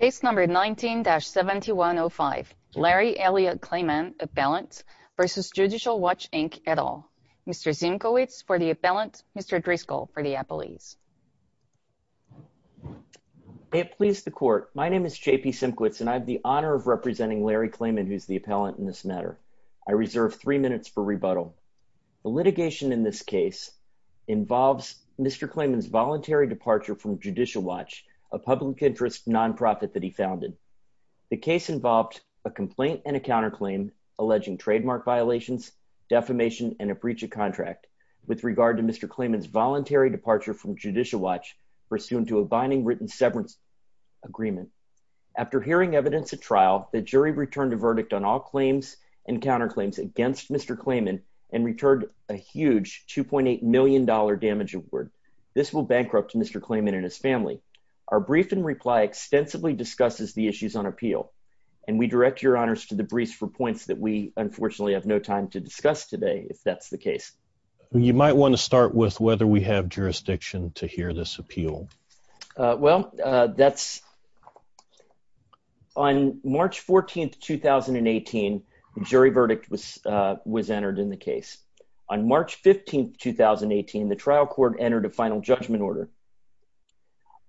Case No. 19-7105, Larry Elliot Klayman, Appellant, v. Judicial Watch, Inc., et al. Mr. Szymkowicz for the Appellant, Mr. Driscoll for the Appellees. May it please the Court, my name is J.P. Szymkowicz, and I have the honor of representing Larry Klayman, who is the Appellant in this matter. I reserve three minutes for rebuttal. The litigation in this case involves Mr. Klayman's voluntary departure from Judicial Watch, a public interest nonprofit that he founded. The case involved a complaint and a counterclaim alleging trademark violations, defamation, and a breach of contract with regard to Mr. Klayman's voluntary departure from Judicial Watch pursuant to a binding written severance agreement. After hearing evidence at trial, the jury returned a verdict on all claims and counterclaims against Mr. Klayman and returned a huge $2.8 million damage award. This will bankrupt Mr. Klayman and his family. Our brief in reply extensively discusses the issues on appeal, and we direct your honors to the briefs for points that we unfortunately have no time to discuss today if that's the case. You might want to start with whether we have jurisdiction to hear this appeal. Well, on March 14, 2018, the jury verdict was entered in the case. On March 15, 2018, the trial court entered a final judgment order.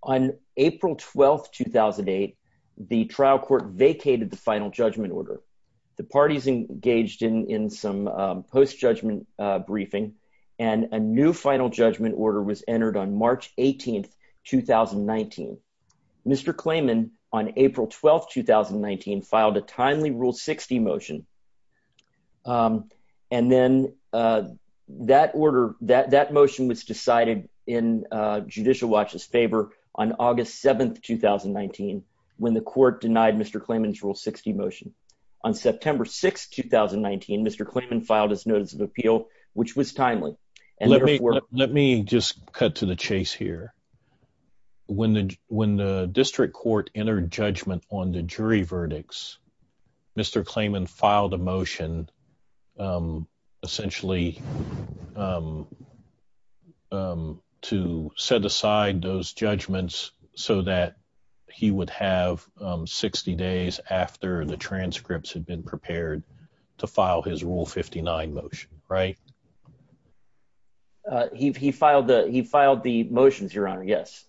On April 12, 2008, the trial court vacated the final judgment order. The parties engaged in some post-judgment briefing, and a new final judgment order was entered on March 18, 2019. Mr. Klayman, on April 12, 2019, filed a timely Rule 60 motion. And then that order, that motion was decided in Judicial Watch's favor on August 7, 2019, when the court denied Mr. Klayman's Rule 60 motion. On September 6, 2019, Mr. Klayman filed his notice of appeal, which was timely. Let me just cut to the chase here. When the district court entered judgment on the jury verdicts, Mr. Klayman filed a motion essentially to set aside those judgments so that he would have 60 days after the transcripts had been prepared to file his Rule 59 motion, right? He filed the motions, Your Honor, yes.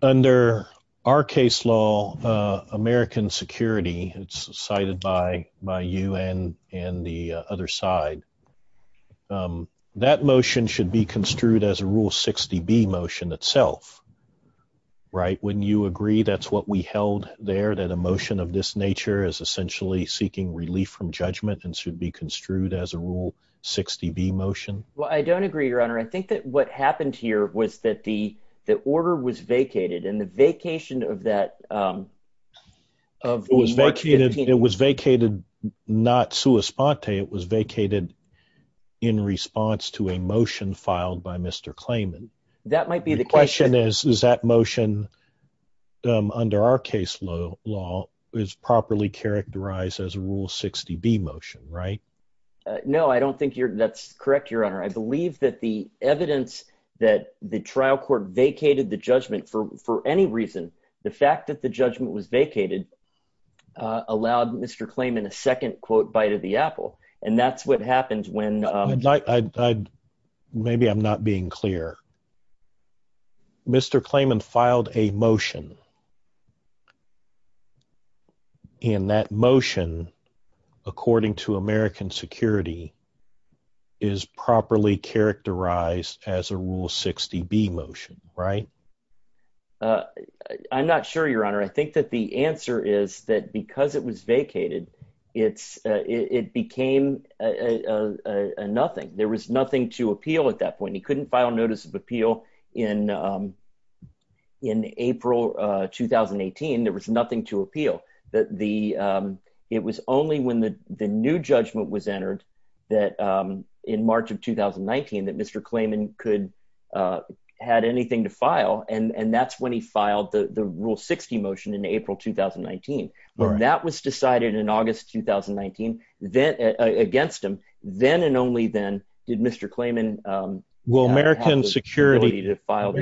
Under our case law, American Security, cited by you and the other side, that motion should be construed as a Rule 60B motion itself, right? Wouldn't you agree that's what we held there, that a motion of this nature is essentially seeking relief from judgment and should be construed as a Rule 60B motion? Well, I don't agree, Your Honor. I think that what happened here was that the order was vacated, and the vacation of that… It was vacated not sua sponte. It was vacated in response to a motion filed by Mr. Klayman. That might be the question. The question is, is that motion under our case law is properly characterized as a Rule 60B motion, right? No, I don't think that's correct, Your Honor. I believe that the evidence that the trial court vacated the judgment for any reason, the fact that the judgment was vacated, allowed Mr. Klayman a second, quote, bite of the apple. And that's what happened when… Maybe I'm not being clear. Mr. Klayman filed a motion, and that motion, according to American security, is properly characterized as a Rule 60B motion, right? I'm not sure, Your Honor. I think that the answer is that because it was vacated, it became a nothing. There was nothing to appeal at that point. He couldn't file notice of appeal in April 2018. There was nothing to appeal. It was only when the new judgment was entered in March of 2019 that Mr. Klayman had anything to file, and that's when he filed the Rule 60 motion in April 2019. When that was decided in August 2019 against him, then and only then did Mr. Klayman have the ability to file…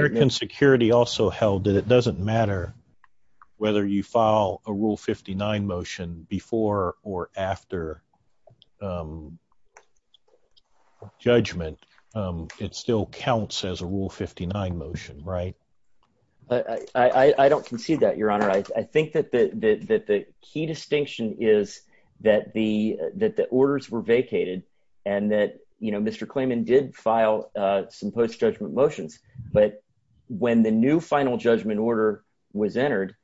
…a Rule 59 motion before or after judgment. It still counts as a Rule 59 motion, right? I don't concede that, Your Honor. I think that the key distinction is that the orders were vacated and that Mr. Klayman did file some post-judgment motions. But when the new final judgment order was entered,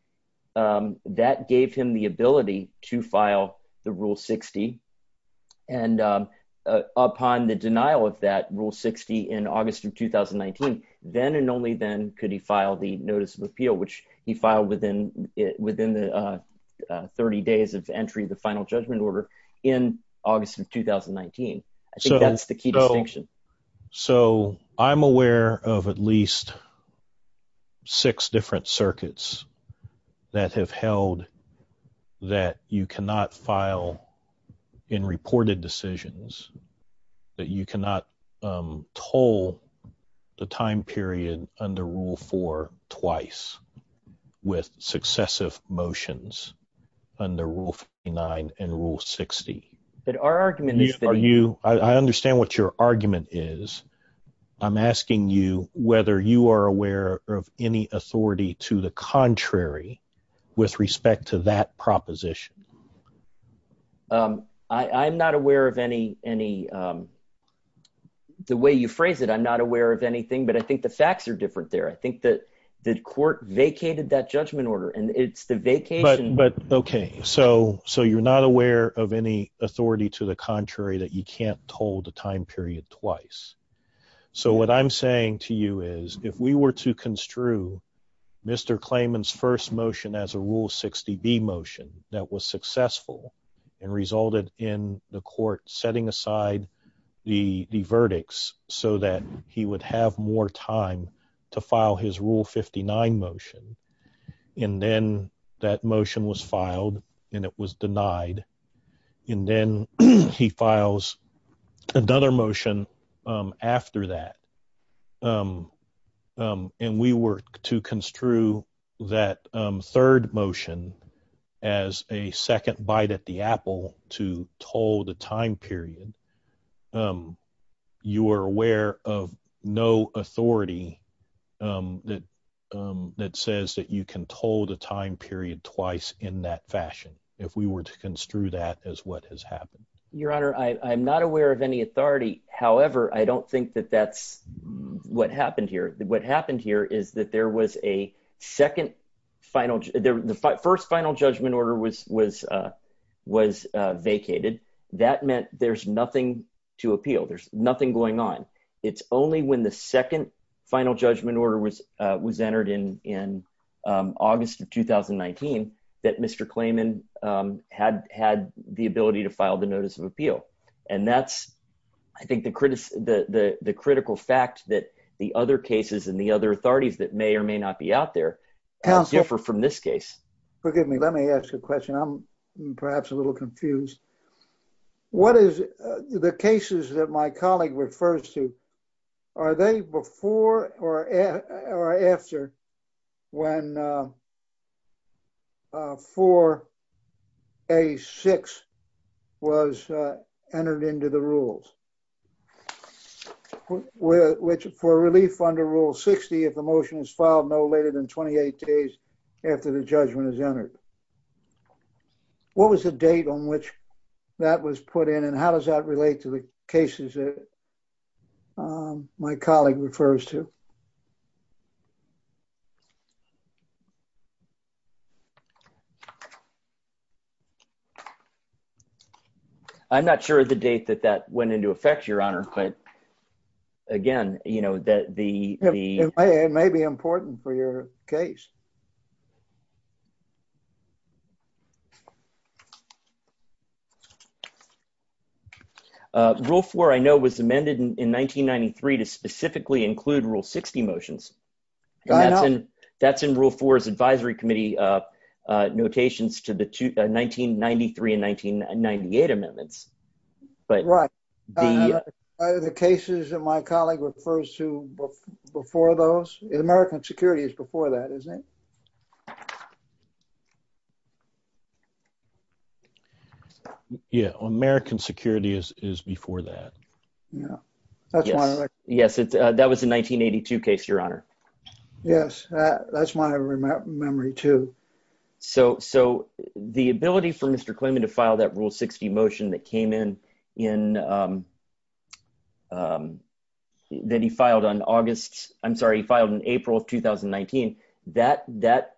that gave him the ability to file the Rule 60. And upon the denial of that Rule 60 in August of 2019, then and only then could he file the notice of appeal, which he filed within the 30 days of entry of the final judgment order in August of 2019. I think that's the key distinction. So, I'm aware of at least six different circuits that have held that you cannot file in reported decisions, that you cannot toll the time period under Rule 4 twice with successive motions under Rule 59 and Rule 60. But our argument is that… I understand what your argument is. I'm asking you whether you are aware of any authority to the contrary with respect to that proposition. I'm not aware of any… The way you phrase it, I'm not aware of anything, but I think the facts are different there. I think that the court vacated that judgment order, and it's the vacation… But, okay, so you're not aware of any authority to the contrary that you can't toll the time period twice. So, what I'm saying to you is, if we were to construe Mr. Clayman's first motion as a Rule 60B motion that was successful and resulted in the court setting aside the verdicts so that he would have more time to file his Rule 59 motion, and then that motion was filed and it was denied, and then he files another motion after that, and we were to construe that third motion as a second bite at the apple to toll the time period, you are aware of no authority that says that you can toll the time period twice in that fashion, if we were to construe that as what has happened? Your Honor, I'm not aware of any authority. However, I don't think that that's what happened here. What happened here is that there was a second final… The first final judgment order was vacated. That meant there's nothing to appeal. There's nothing going on. It's only when the second final judgment order was entered in August of 2019 that Mr. Clayman had the ability to file the notice of appeal. And that's, I think, the critical fact that the other cases and the other authorities that may or may not be out there differ from this case. Forgive me. Let me ask a question. I'm perhaps a little confused. What is the cases that my colleague refers to, are they before or after when 4A6 was entered into the rules? Which for relief under Rule 60, if the motion is filed no later than 28 days after the judgment is entered. What was the date on which that was put in and how does that relate to the cases that my colleague refers to? I'm not sure of the date that that went into effect, Your Honor. It may be important for your case. Rule 4, I know, was amended in 1993 to specifically include Rule 60 motions. That's in Rule 4's advisory committee notations to the 1993 and 1998 amendments. Right. Are the cases that my colleague refers to before those? American Security is before that, isn't it? Yeah, American Security is before that. Yes, that was a 1982 case, Your Honor. Yes, that's my memory, too. So the ability for Mr. Klinman to file that Rule 60 motion that he filed in April of 2019, that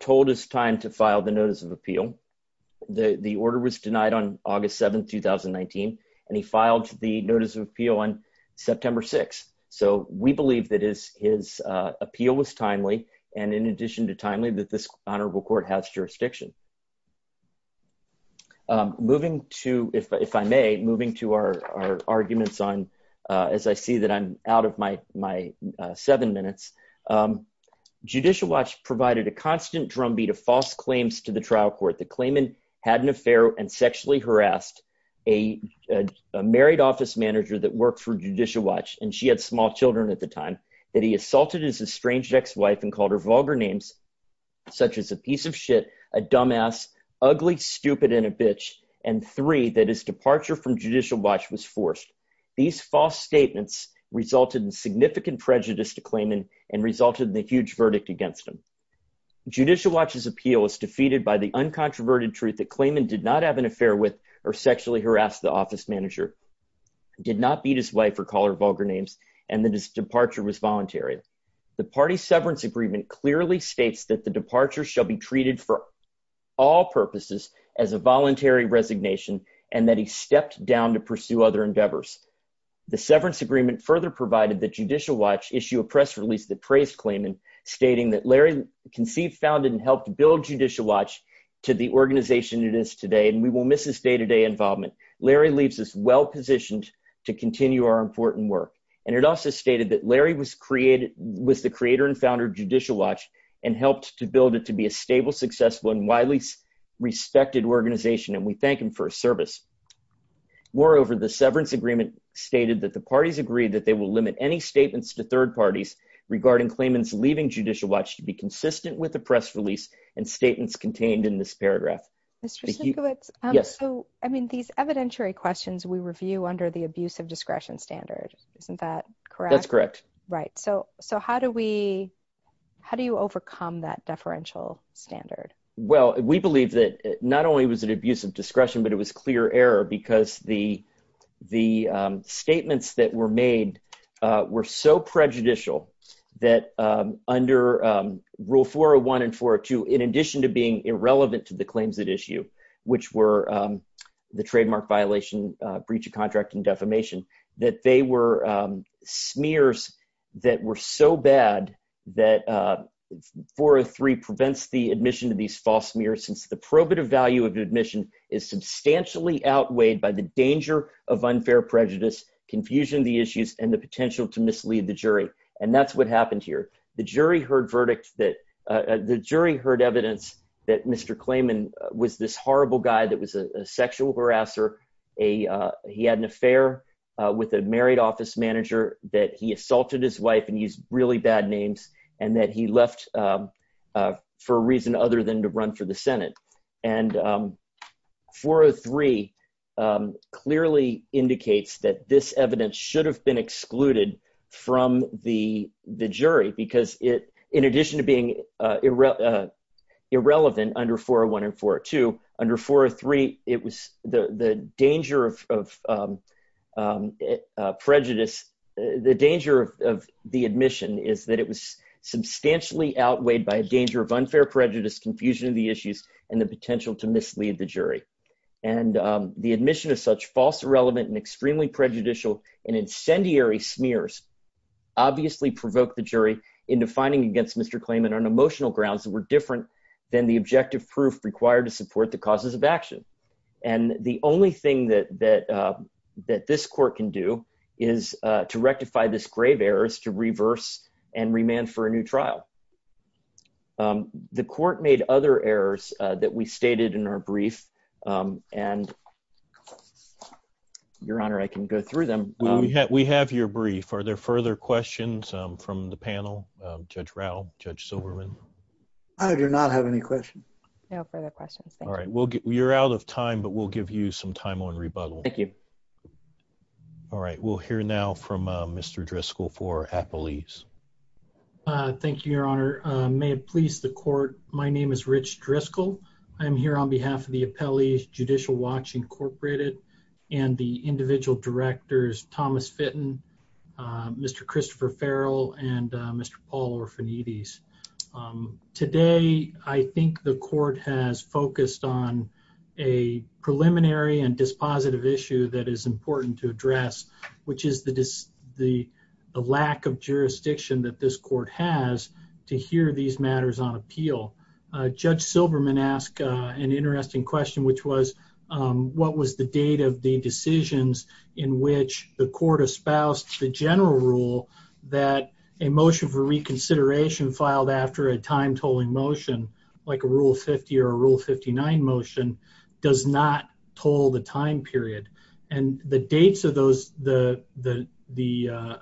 told his time to file the Notice of Appeal. The order was denied on August 7, 2019, and he filed the Notice of Appeal on September 6. So we believe that his appeal was timely, and in addition to timely, that this honorable court has jurisdiction. Moving to, if I may, moving to our arguments on, as I see that I'm out of my seven minutes, Judicial Watch provided a constant drumbeat of false claims to the trial court that Klinman had an affair and sexually harassed a married office manager that worked for Judicial Watch, and she had small children at the time, that he assaulted his estranged ex-wife and called her vulgar names, such as a piece of shit, a dumbass, ugly, stupid, and a bitch, and three, that his departure from Judicial Watch was forced. These false statements resulted in significant prejudice to Klinman and resulted in a huge verdict against him. Judicial Watch's appeal was defeated by the uncontroverted truth that Klinman did not have an affair with or sexually harassed the office manager, did not beat his wife or call her vulgar names, and that his departure was voluntary. The party's severance agreement clearly states that the departure shall be treated for all purposes as a voluntary resignation and that he stepped down to pursue other endeavors. The severance agreement further provided that Judicial Watch issue a press release that praised Klinman, stating that Larry conceived, founded, and helped build Judicial Watch to the organization it is today, and we will miss his day-to-day involvement. Larry leaves us well-positioned to continue our important work, and it also stated that Larry was the creator and founder of Judicial Watch and helped to build it to be a stable, successful, and widely respected organization, and we thank him for his service. Moreover, the severance agreement stated that the parties agreed that they will limit any statements to third parties regarding Klinman's leaving Judicial Watch to be consistent with the press release and statements contained in this paragraph. Mr. Sinkiewicz, I mean, these evidentiary questions we review under the abuse of discretion standard, isn't that correct? That's correct. Right, so how do we, how do you overcome that deferential standard? Well, we believe that not only was it abuse of discretion, but it was clear error because the statements that were made were so prejudicial that under Rule 401 and 402, in addition to being irrelevant to the claims at issue, which were the trademark violation, breach of contract, and defamation, that they were smears that were so bad that 403 prevents the admission to these false smears since the probative value of admission is substantially outweighed by the danger of unfair prejudice, confusion of the issues, and the potential to mislead the jury, and that's what happened here. The jury heard verdict that, the jury heard evidence that Mr. Klinman was this horrible guy that was a sexual harasser, he had an affair with a married office manager, that he assaulted his wife and used really bad names, and that he left for a reason other than to run for the Senate. And 403 clearly indicates that this evidence should have been excluded from the jury because in addition to being irrelevant under 401 and 402, under 403, the danger of prejudice, the danger of the admission is that it was substantially outweighed by a danger of unfair prejudice, confusion of the issues, and the potential to mislead the jury. And the admission of such false, irrelevant, and extremely prejudicial and incendiary smears obviously provoked the jury into finding against Mr. Klinman on emotional grounds that were different than the objective proof required to support the causes of action. And the only thing that this court can do is to rectify this grave errors to reverse and remand for a new trial. The court made other errors that we stated in our brief, and Your Honor, I can go through them. We have your brief. Are there further questions from the panel? Judge Rao, Judge Silverman? I do not have any questions. No further questions, thank you. All right, you're out of time, but we'll give you some time on rebuttal. Thank you. All right, we'll hear now from Mr. Driscoll for appellees. Thank you, Your Honor. May it please the court, my name is Rich Driscoll. I'm here on behalf of the appellees, Judicial Watch Incorporated, and the individual directors, Thomas Fitton, Mr. Christopher Farrell, and Mr. Paul Orfanides. Today, I think the court has focused on a preliminary and dispositive issue that is important to address, which is the lack of jurisdiction that this court has to hear these matters on appeal. Judge Silverman asked an interesting question, which was, what was the date of the decisions in which the court espoused the general rule that a motion for reconsideration filed after a time-tolling motion, like a Rule 50 or a Rule 59 motion, does not toll the time period. And the dates of the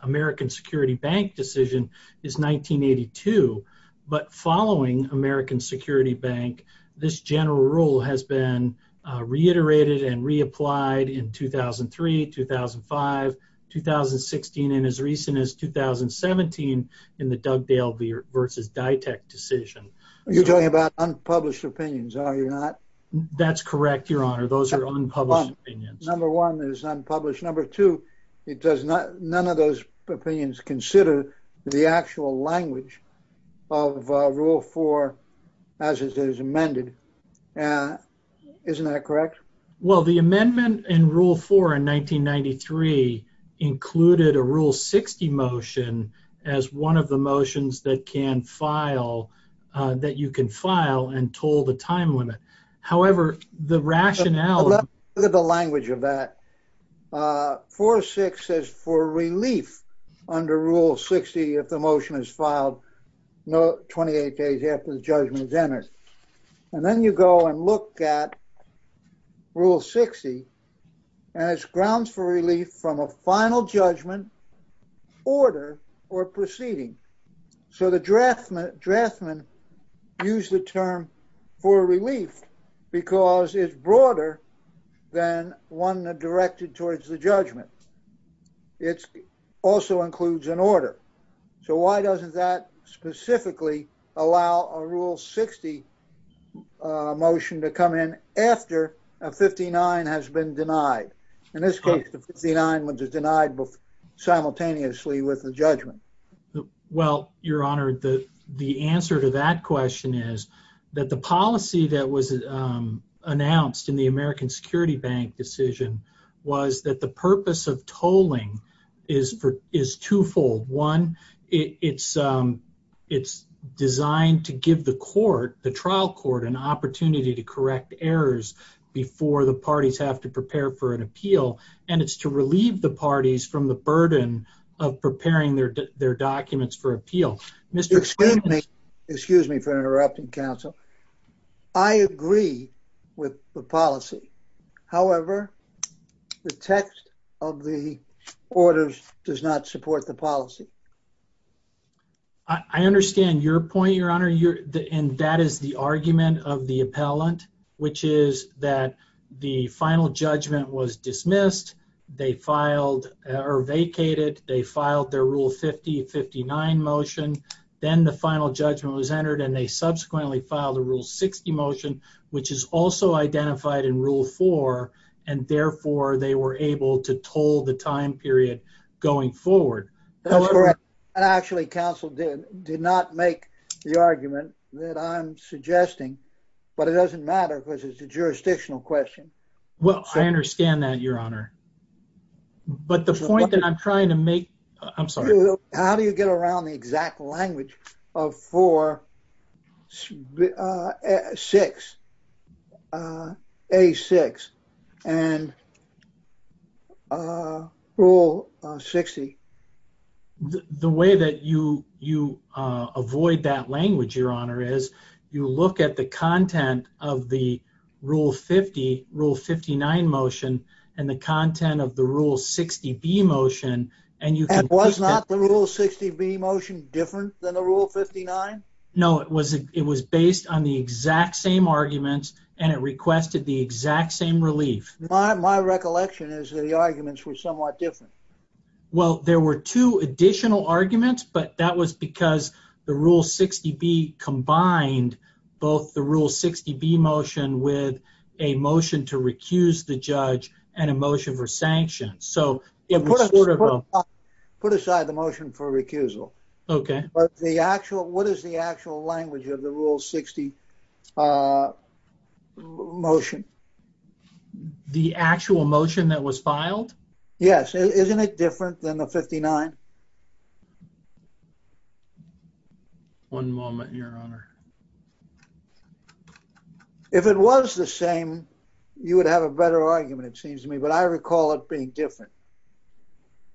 American Security Bank decision is 1982, but following American Security Bank, this general rule has been reiterated and reapplied in 2003, 2005, 2016, and as recent as 2017 in the Dugdale v. Dytek decision. You're talking about unpublished opinions, are you not? That's correct, Your Honor, those are unpublished opinions. Number one is unpublished. Number two, none of those opinions consider the actual language of Rule 4 as it is amended. Isn't that correct? Well, the amendment in Rule 4 in 1993 included a Rule 60 motion as one of the motions that you can file and toll the time limit. However, the rationale... Look at the language of that. 4.6 says for relief under Rule 60, if the motion is filed 28 days after the judgment is entered. And then you go and look at Rule 60, and it's grounds for relief from a final judgment, order, or proceeding. So the draftsman used the term for relief because it's broader than one directed towards the judgment. It also includes an order. So why doesn't that specifically allow a Rule 60 motion to come in after a 59 has been denied? In this case, the 59 was denied simultaneously with the judgment. Well, Your Honor, the answer to that question is that the policy that was announced in the American Security Bank decision was that the purpose of tolling is twofold. One, it's designed to give the trial court an opportunity to correct errors before the parties have to prepare for an appeal. And it's to relieve the parties from the burden of preparing their documents for appeal. Excuse me for interrupting, counsel. I agree with the policy. However, the text of the orders does not support the policy. I understand your point, Your Honor. And that is the argument of the appellant, which is that the final judgment was dismissed. They filed or vacated. They filed their Rule 50, 59 motion. Then the final judgment was entered, and they subsequently filed a Rule 60 motion, which is also identified in Rule 4. And therefore, they were able to toll the time period going forward. That's correct. Actually, counsel did not make the argument that I'm suggesting. But it doesn't matter because it's a jurisdictional question. Well, I understand that, Your Honor. But the point that I'm trying to make... I'm sorry. How do you get around the exact language of 4, 6, A6, and Rule 60? The way that you avoid that language, Your Honor, is you look at the content of the Rule 50, Rule 59 motion, and the content of the Rule 60, B motion, and you can... And was not the Rule 60, B motion different than the Rule 59? No. It was based on the exact same arguments, and it requested the exact same relief. My recollection is that the arguments were somewhat different. Well, there were two additional arguments, but that was because the Rule 60, B combined both the Rule 60, B motion with a motion to recuse the judge and a motion for sanction. So it was sort of a... Put aside the motion for recusal. Okay. But the actual... What is the actual language of the Rule 60 motion? The actual motion that was filed? Yes. Isn't it different than the 59? One moment, Your Honor. If it was the same, you would have a better argument, it seems to me, but I recall it being different.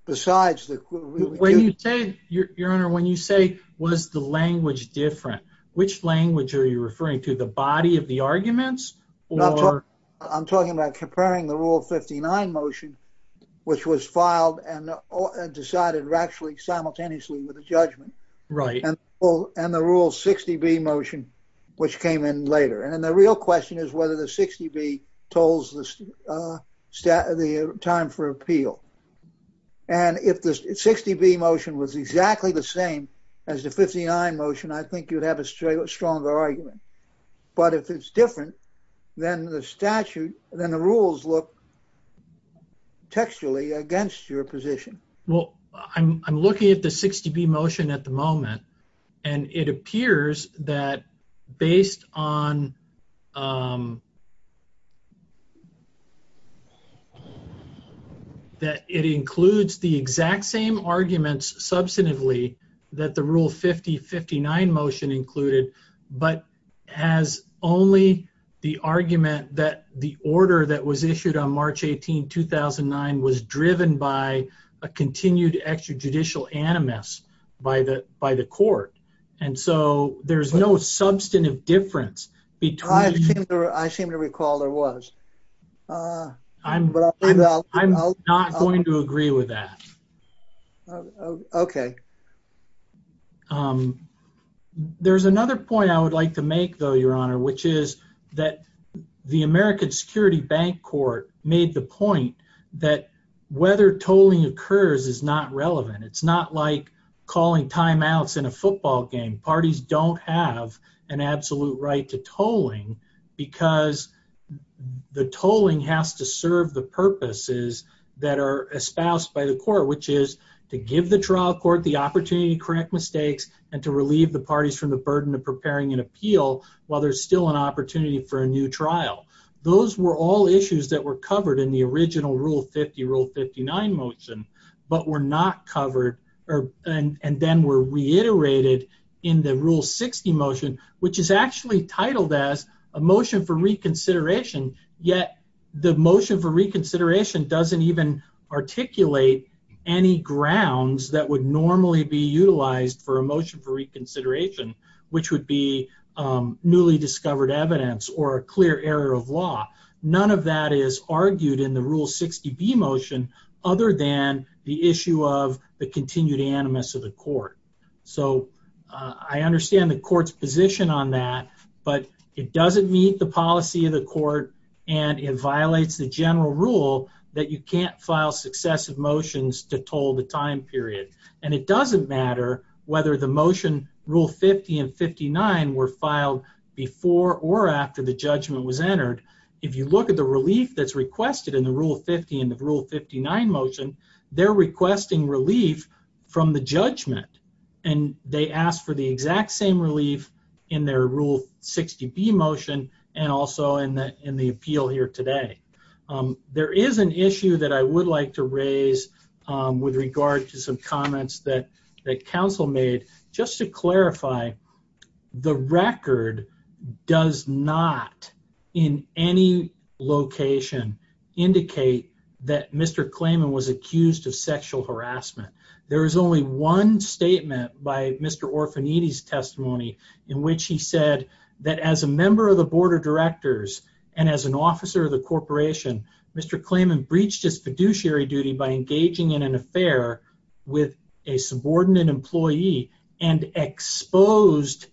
Besides the... When you say... Your Honor, when you say, was the language different, which language are you referring to? The body of the arguments or... I'm talking about comparing the Rule 59 motion, which was filed and decided actually simultaneously with the judgment. Right. And the Rule 60, B motion, which came in later. And then the real question is whether the 60, B told the time for appeal. And if the 60, B motion was exactly the same as the 59 motion, I think you'd have a stronger argument. But if it's different than the statute, then the rules look textually against your position. Well, I'm looking at the 60, B motion at the moment. And it appears that based on... That it includes the exact same arguments substantively that the Rule 50, 59 motion included, but has only the argument that the order that was issued on March 18, 2009 was driven by a continued extrajudicial animus by the court. And so there's no substantive difference between... I seem to recall there was. I'm not going to agree with that. Okay. There's another point I would like to make, though, Your Honor, which is that the American Security Bank Court made the point that whether tolling occurs is not relevant. It's not like calling timeouts in a football game. Parties don't have an absolute right to tolling because the tolling has to serve the purposes that are espoused by the court, which is to give the trial court the opportunity to correct mistakes and to relieve the parties from the burden of preparing an appeal while there's still an opportunity for a new trial. Those were all issues that were covered in the original Rule 50, Rule 59 motion, but were not covered and then were reiterated in the Rule 60 motion, which is actually titled as a motion for reconsideration, yet the motion for reconsideration doesn't even articulate any grounds that would normally be utilized for a motion for reconsideration, which would be newly discovered evidence or a clear error of law. None of that is argued in the Rule 60B motion other than the issue of the continued animus of the court. So I understand the court's position on that, but it doesn't meet the policy of the court and it violates the general rule that you can't file successive motions to toll the time period. And it doesn't matter whether the motion Rule 50 and 59 were filed before or after the judgment was entered. If you look at the relief that's requested in the Rule 50 and the Rule 59 motion, they're requesting relief from the judgment and they ask for the exact same relief in their Rule 60B motion and also in the appeal here today. There is an issue that I would like to raise with regard to some comments that counsel made. Just to clarify, the record does not, in any location, indicate that Mr. Klayman was accused of sexual harassment. There is only one statement by Mr. Orfaniti's testimony in which he said that as a member of the board of directors and as an officer of the corporation, Mr. Klayman breached his fiduciary duty by engaging in an affair with a subordinate employee and exposed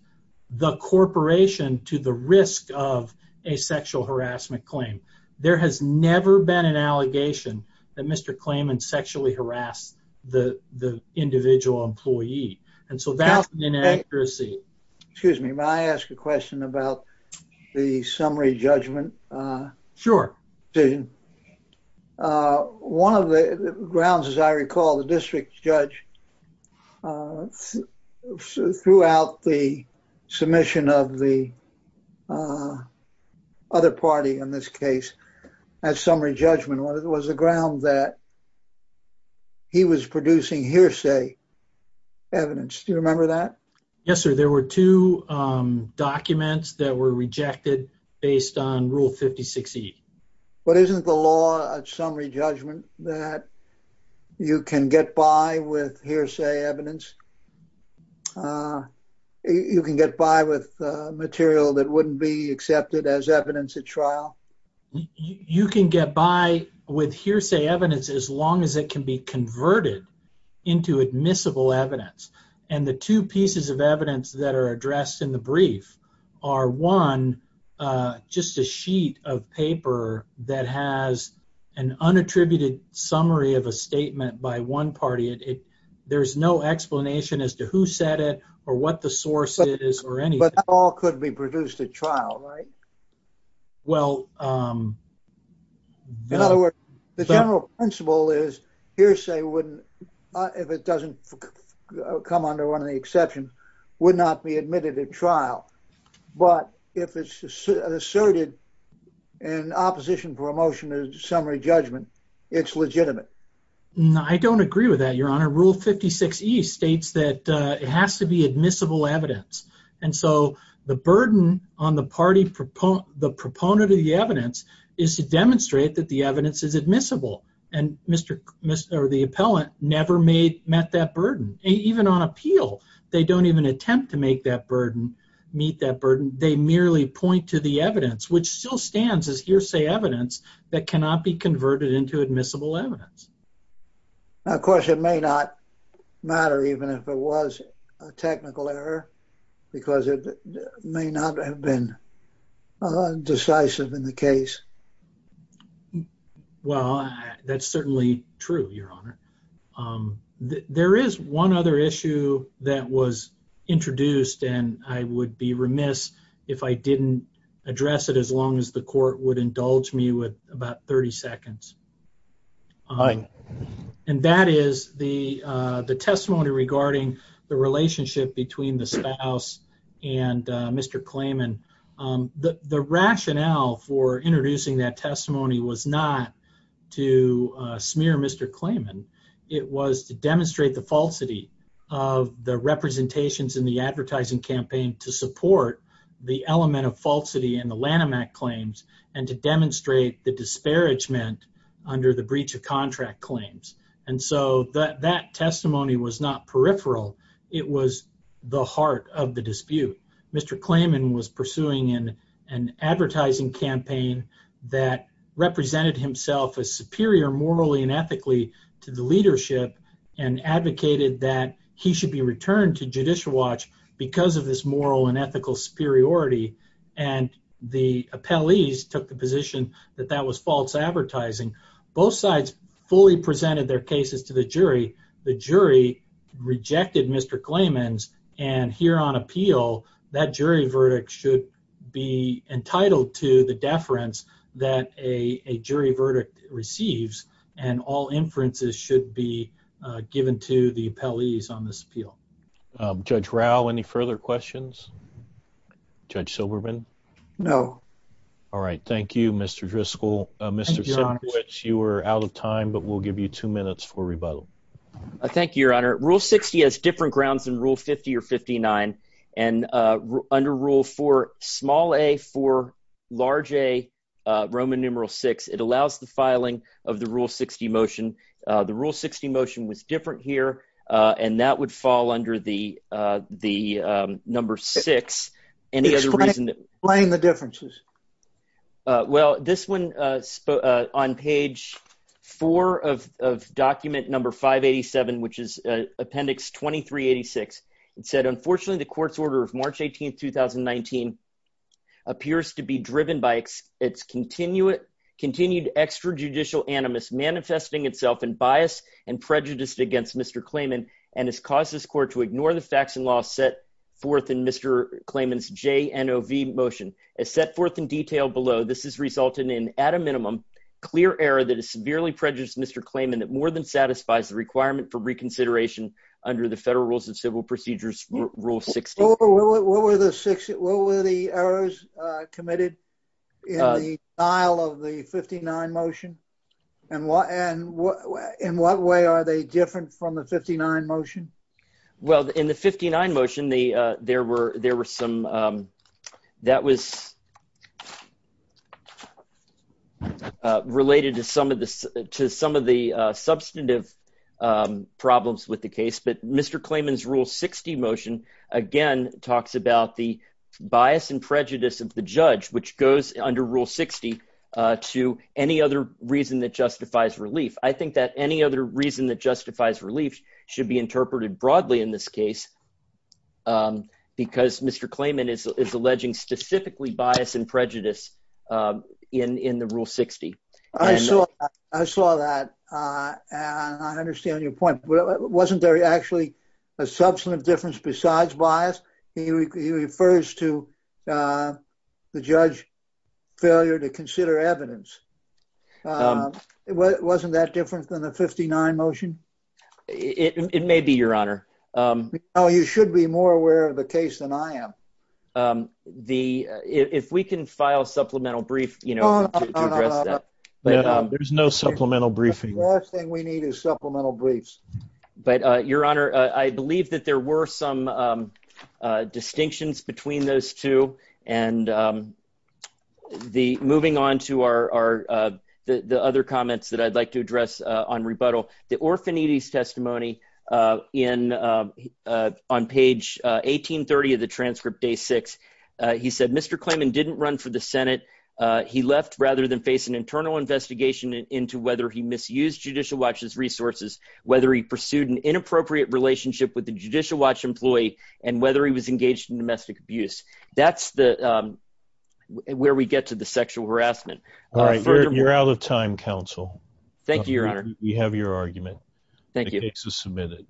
the corporation to the risk of a sexual harassment claim. There has never been an allegation that Mr. Klayman sexually harassed the individual employee. And so that's an inaccuracy. Excuse me. May I ask a question about the summary judgment? Sure. One of the grounds, as I recall, the district judge, throughout the submission of the other party in this case, that summary judgment was the ground that he was producing hearsay evidence. Do you remember that? Yes, sir. There were two documents that were rejected based on Rule 56E. But isn't the law of summary judgment that you can get by with hearsay evidence? You can get by with material that wouldn't be accepted as evidence at trial? You can get by with hearsay evidence as long as it can be converted into admissible evidence. And the two pieces of evidence that are addressed in the brief are, one, just a sheet of paper that has an unattributed summary of a statement by one party. There's no explanation as to who said it or what the source is or anything. But that all could be produced at trial, right? Well, no. In other words, the general principle is hearsay, if it doesn't come under one of the exceptions, would not be admitted at trial. But if it's asserted in opposition for a motion of summary judgment, it's legitimate. No, I don't agree with that, Your Honor. Rule 56E states that it has to be admissible evidence. And so the burden on the party, the proponent of the evidence, is to demonstrate that the evidence is admissible. And the appellant never met that burden. Even on appeal, they don't even attempt to make that burden, meet that burden. They merely point to the evidence, which still stands as hearsay evidence, that cannot be converted into admissible evidence. Now, of course, it may not matter even if it was a technical error, because it may not have been decisive in the case. Well, that's certainly true, Your Honor. There is one other issue that was introduced, and I would be remiss if I didn't address it, as long as the court would indulge me with about 30 seconds. Aye. And that is the testimony regarding the relationship between the spouse and Mr. Klayman. The rationale for introducing that testimony was not to smear Mr. Klayman. It was to demonstrate the falsity of the representations in the advertising campaign to support the element of falsity in the Lanham Act claims and to demonstrate the disparagement under the breach of contract claims. And so that testimony was not peripheral. It was the heart of the dispute. Mr. Klayman was pursuing an advertising campaign that represented himself as superior morally and ethically to the leadership and advocated that he should be returned to Judicial Watch because of his moral and ethical superiority. And the appellees took the position that that was false advertising. Both sides fully presented their cases to the jury. The jury rejected Mr. Klayman's, and here on appeal, that jury verdict should be entitled to the deference that a jury verdict receives, and all inferences should be given to the appellees on this appeal. Judge Rao, any further questions? Judge Silberman? No. All right. Thank you, Mr. Driscoll. Thank you, Your Honor. Mr. Simkiewicz, you are out of time, but we'll give you two minutes for rebuttal. Thank you, Your Honor. Rule 60 has different grounds than Rule 50 or 59. And under Rule 4, small a for large a, Roman numeral 6, it allows the filing of the Rule 60 motion. The Rule 60 motion was different here, and that would fall under the number 6. Explain the differences. Well, this one on page 4 of document number 587, which is appendix 2386, it said, unfortunately the court's order of March 18, 2019 appears to be driven by its continued extrajudicial animus manifesting itself in bias and prejudice against Mr. Klayman and has caused this court to ignore the facts and laws set forth in Mr. Klayman's JNOV motion. As set forth in detail below, this has resulted in, at a minimum, clear error that has severely prejudiced Mr. Klayman that more than satisfies the requirement for reconsideration under the Federal Rules of Civil Procedures Rule 60. What were the errors committed in the style of the 59 motion? And in what way are they different from the 59 motion? Well, in the 59 motion, there were some that was related to some of the substantive problems with the case. But Mr. Klayman's Rule 60 motion, again, talks about the bias and prejudice of the judge, which goes under Rule 60 to any other reason that justifies relief. I think that any other reason that justifies relief should be interpreted broadly in this case because Mr. Klayman is alleging specifically bias and prejudice in the Rule 60. I saw that, and I understand your point. Wasn't there actually a substantive difference besides bias? He refers to the judge failure to consider evidence. Wasn't that different than the 59 motion? It may be, Your Honor. You should be more aware of the case than I am. If we can file a supplemental brief to address that. There's no supplemental briefing. The last thing we need is supplemental briefs. But, Your Honor, I believe that there were some distinctions between those two. And moving on to the other comments that I'd like to address on rebuttal. The orphanities testimony on page 1830 of the transcript, day six, he said, Mr. Klayman didn't run for the Senate. He left rather than face an internal investigation into whether he misused Judicial Watch's resources, whether he pursued an inappropriate relationship with the Judicial Watch employee, and whether he was engaged in domestic abuse. That's where we get to the sexual harassment. All right. You're out of time, counsel. Thank you, Your Honor. We have your argument. Thank you. The case is submitted.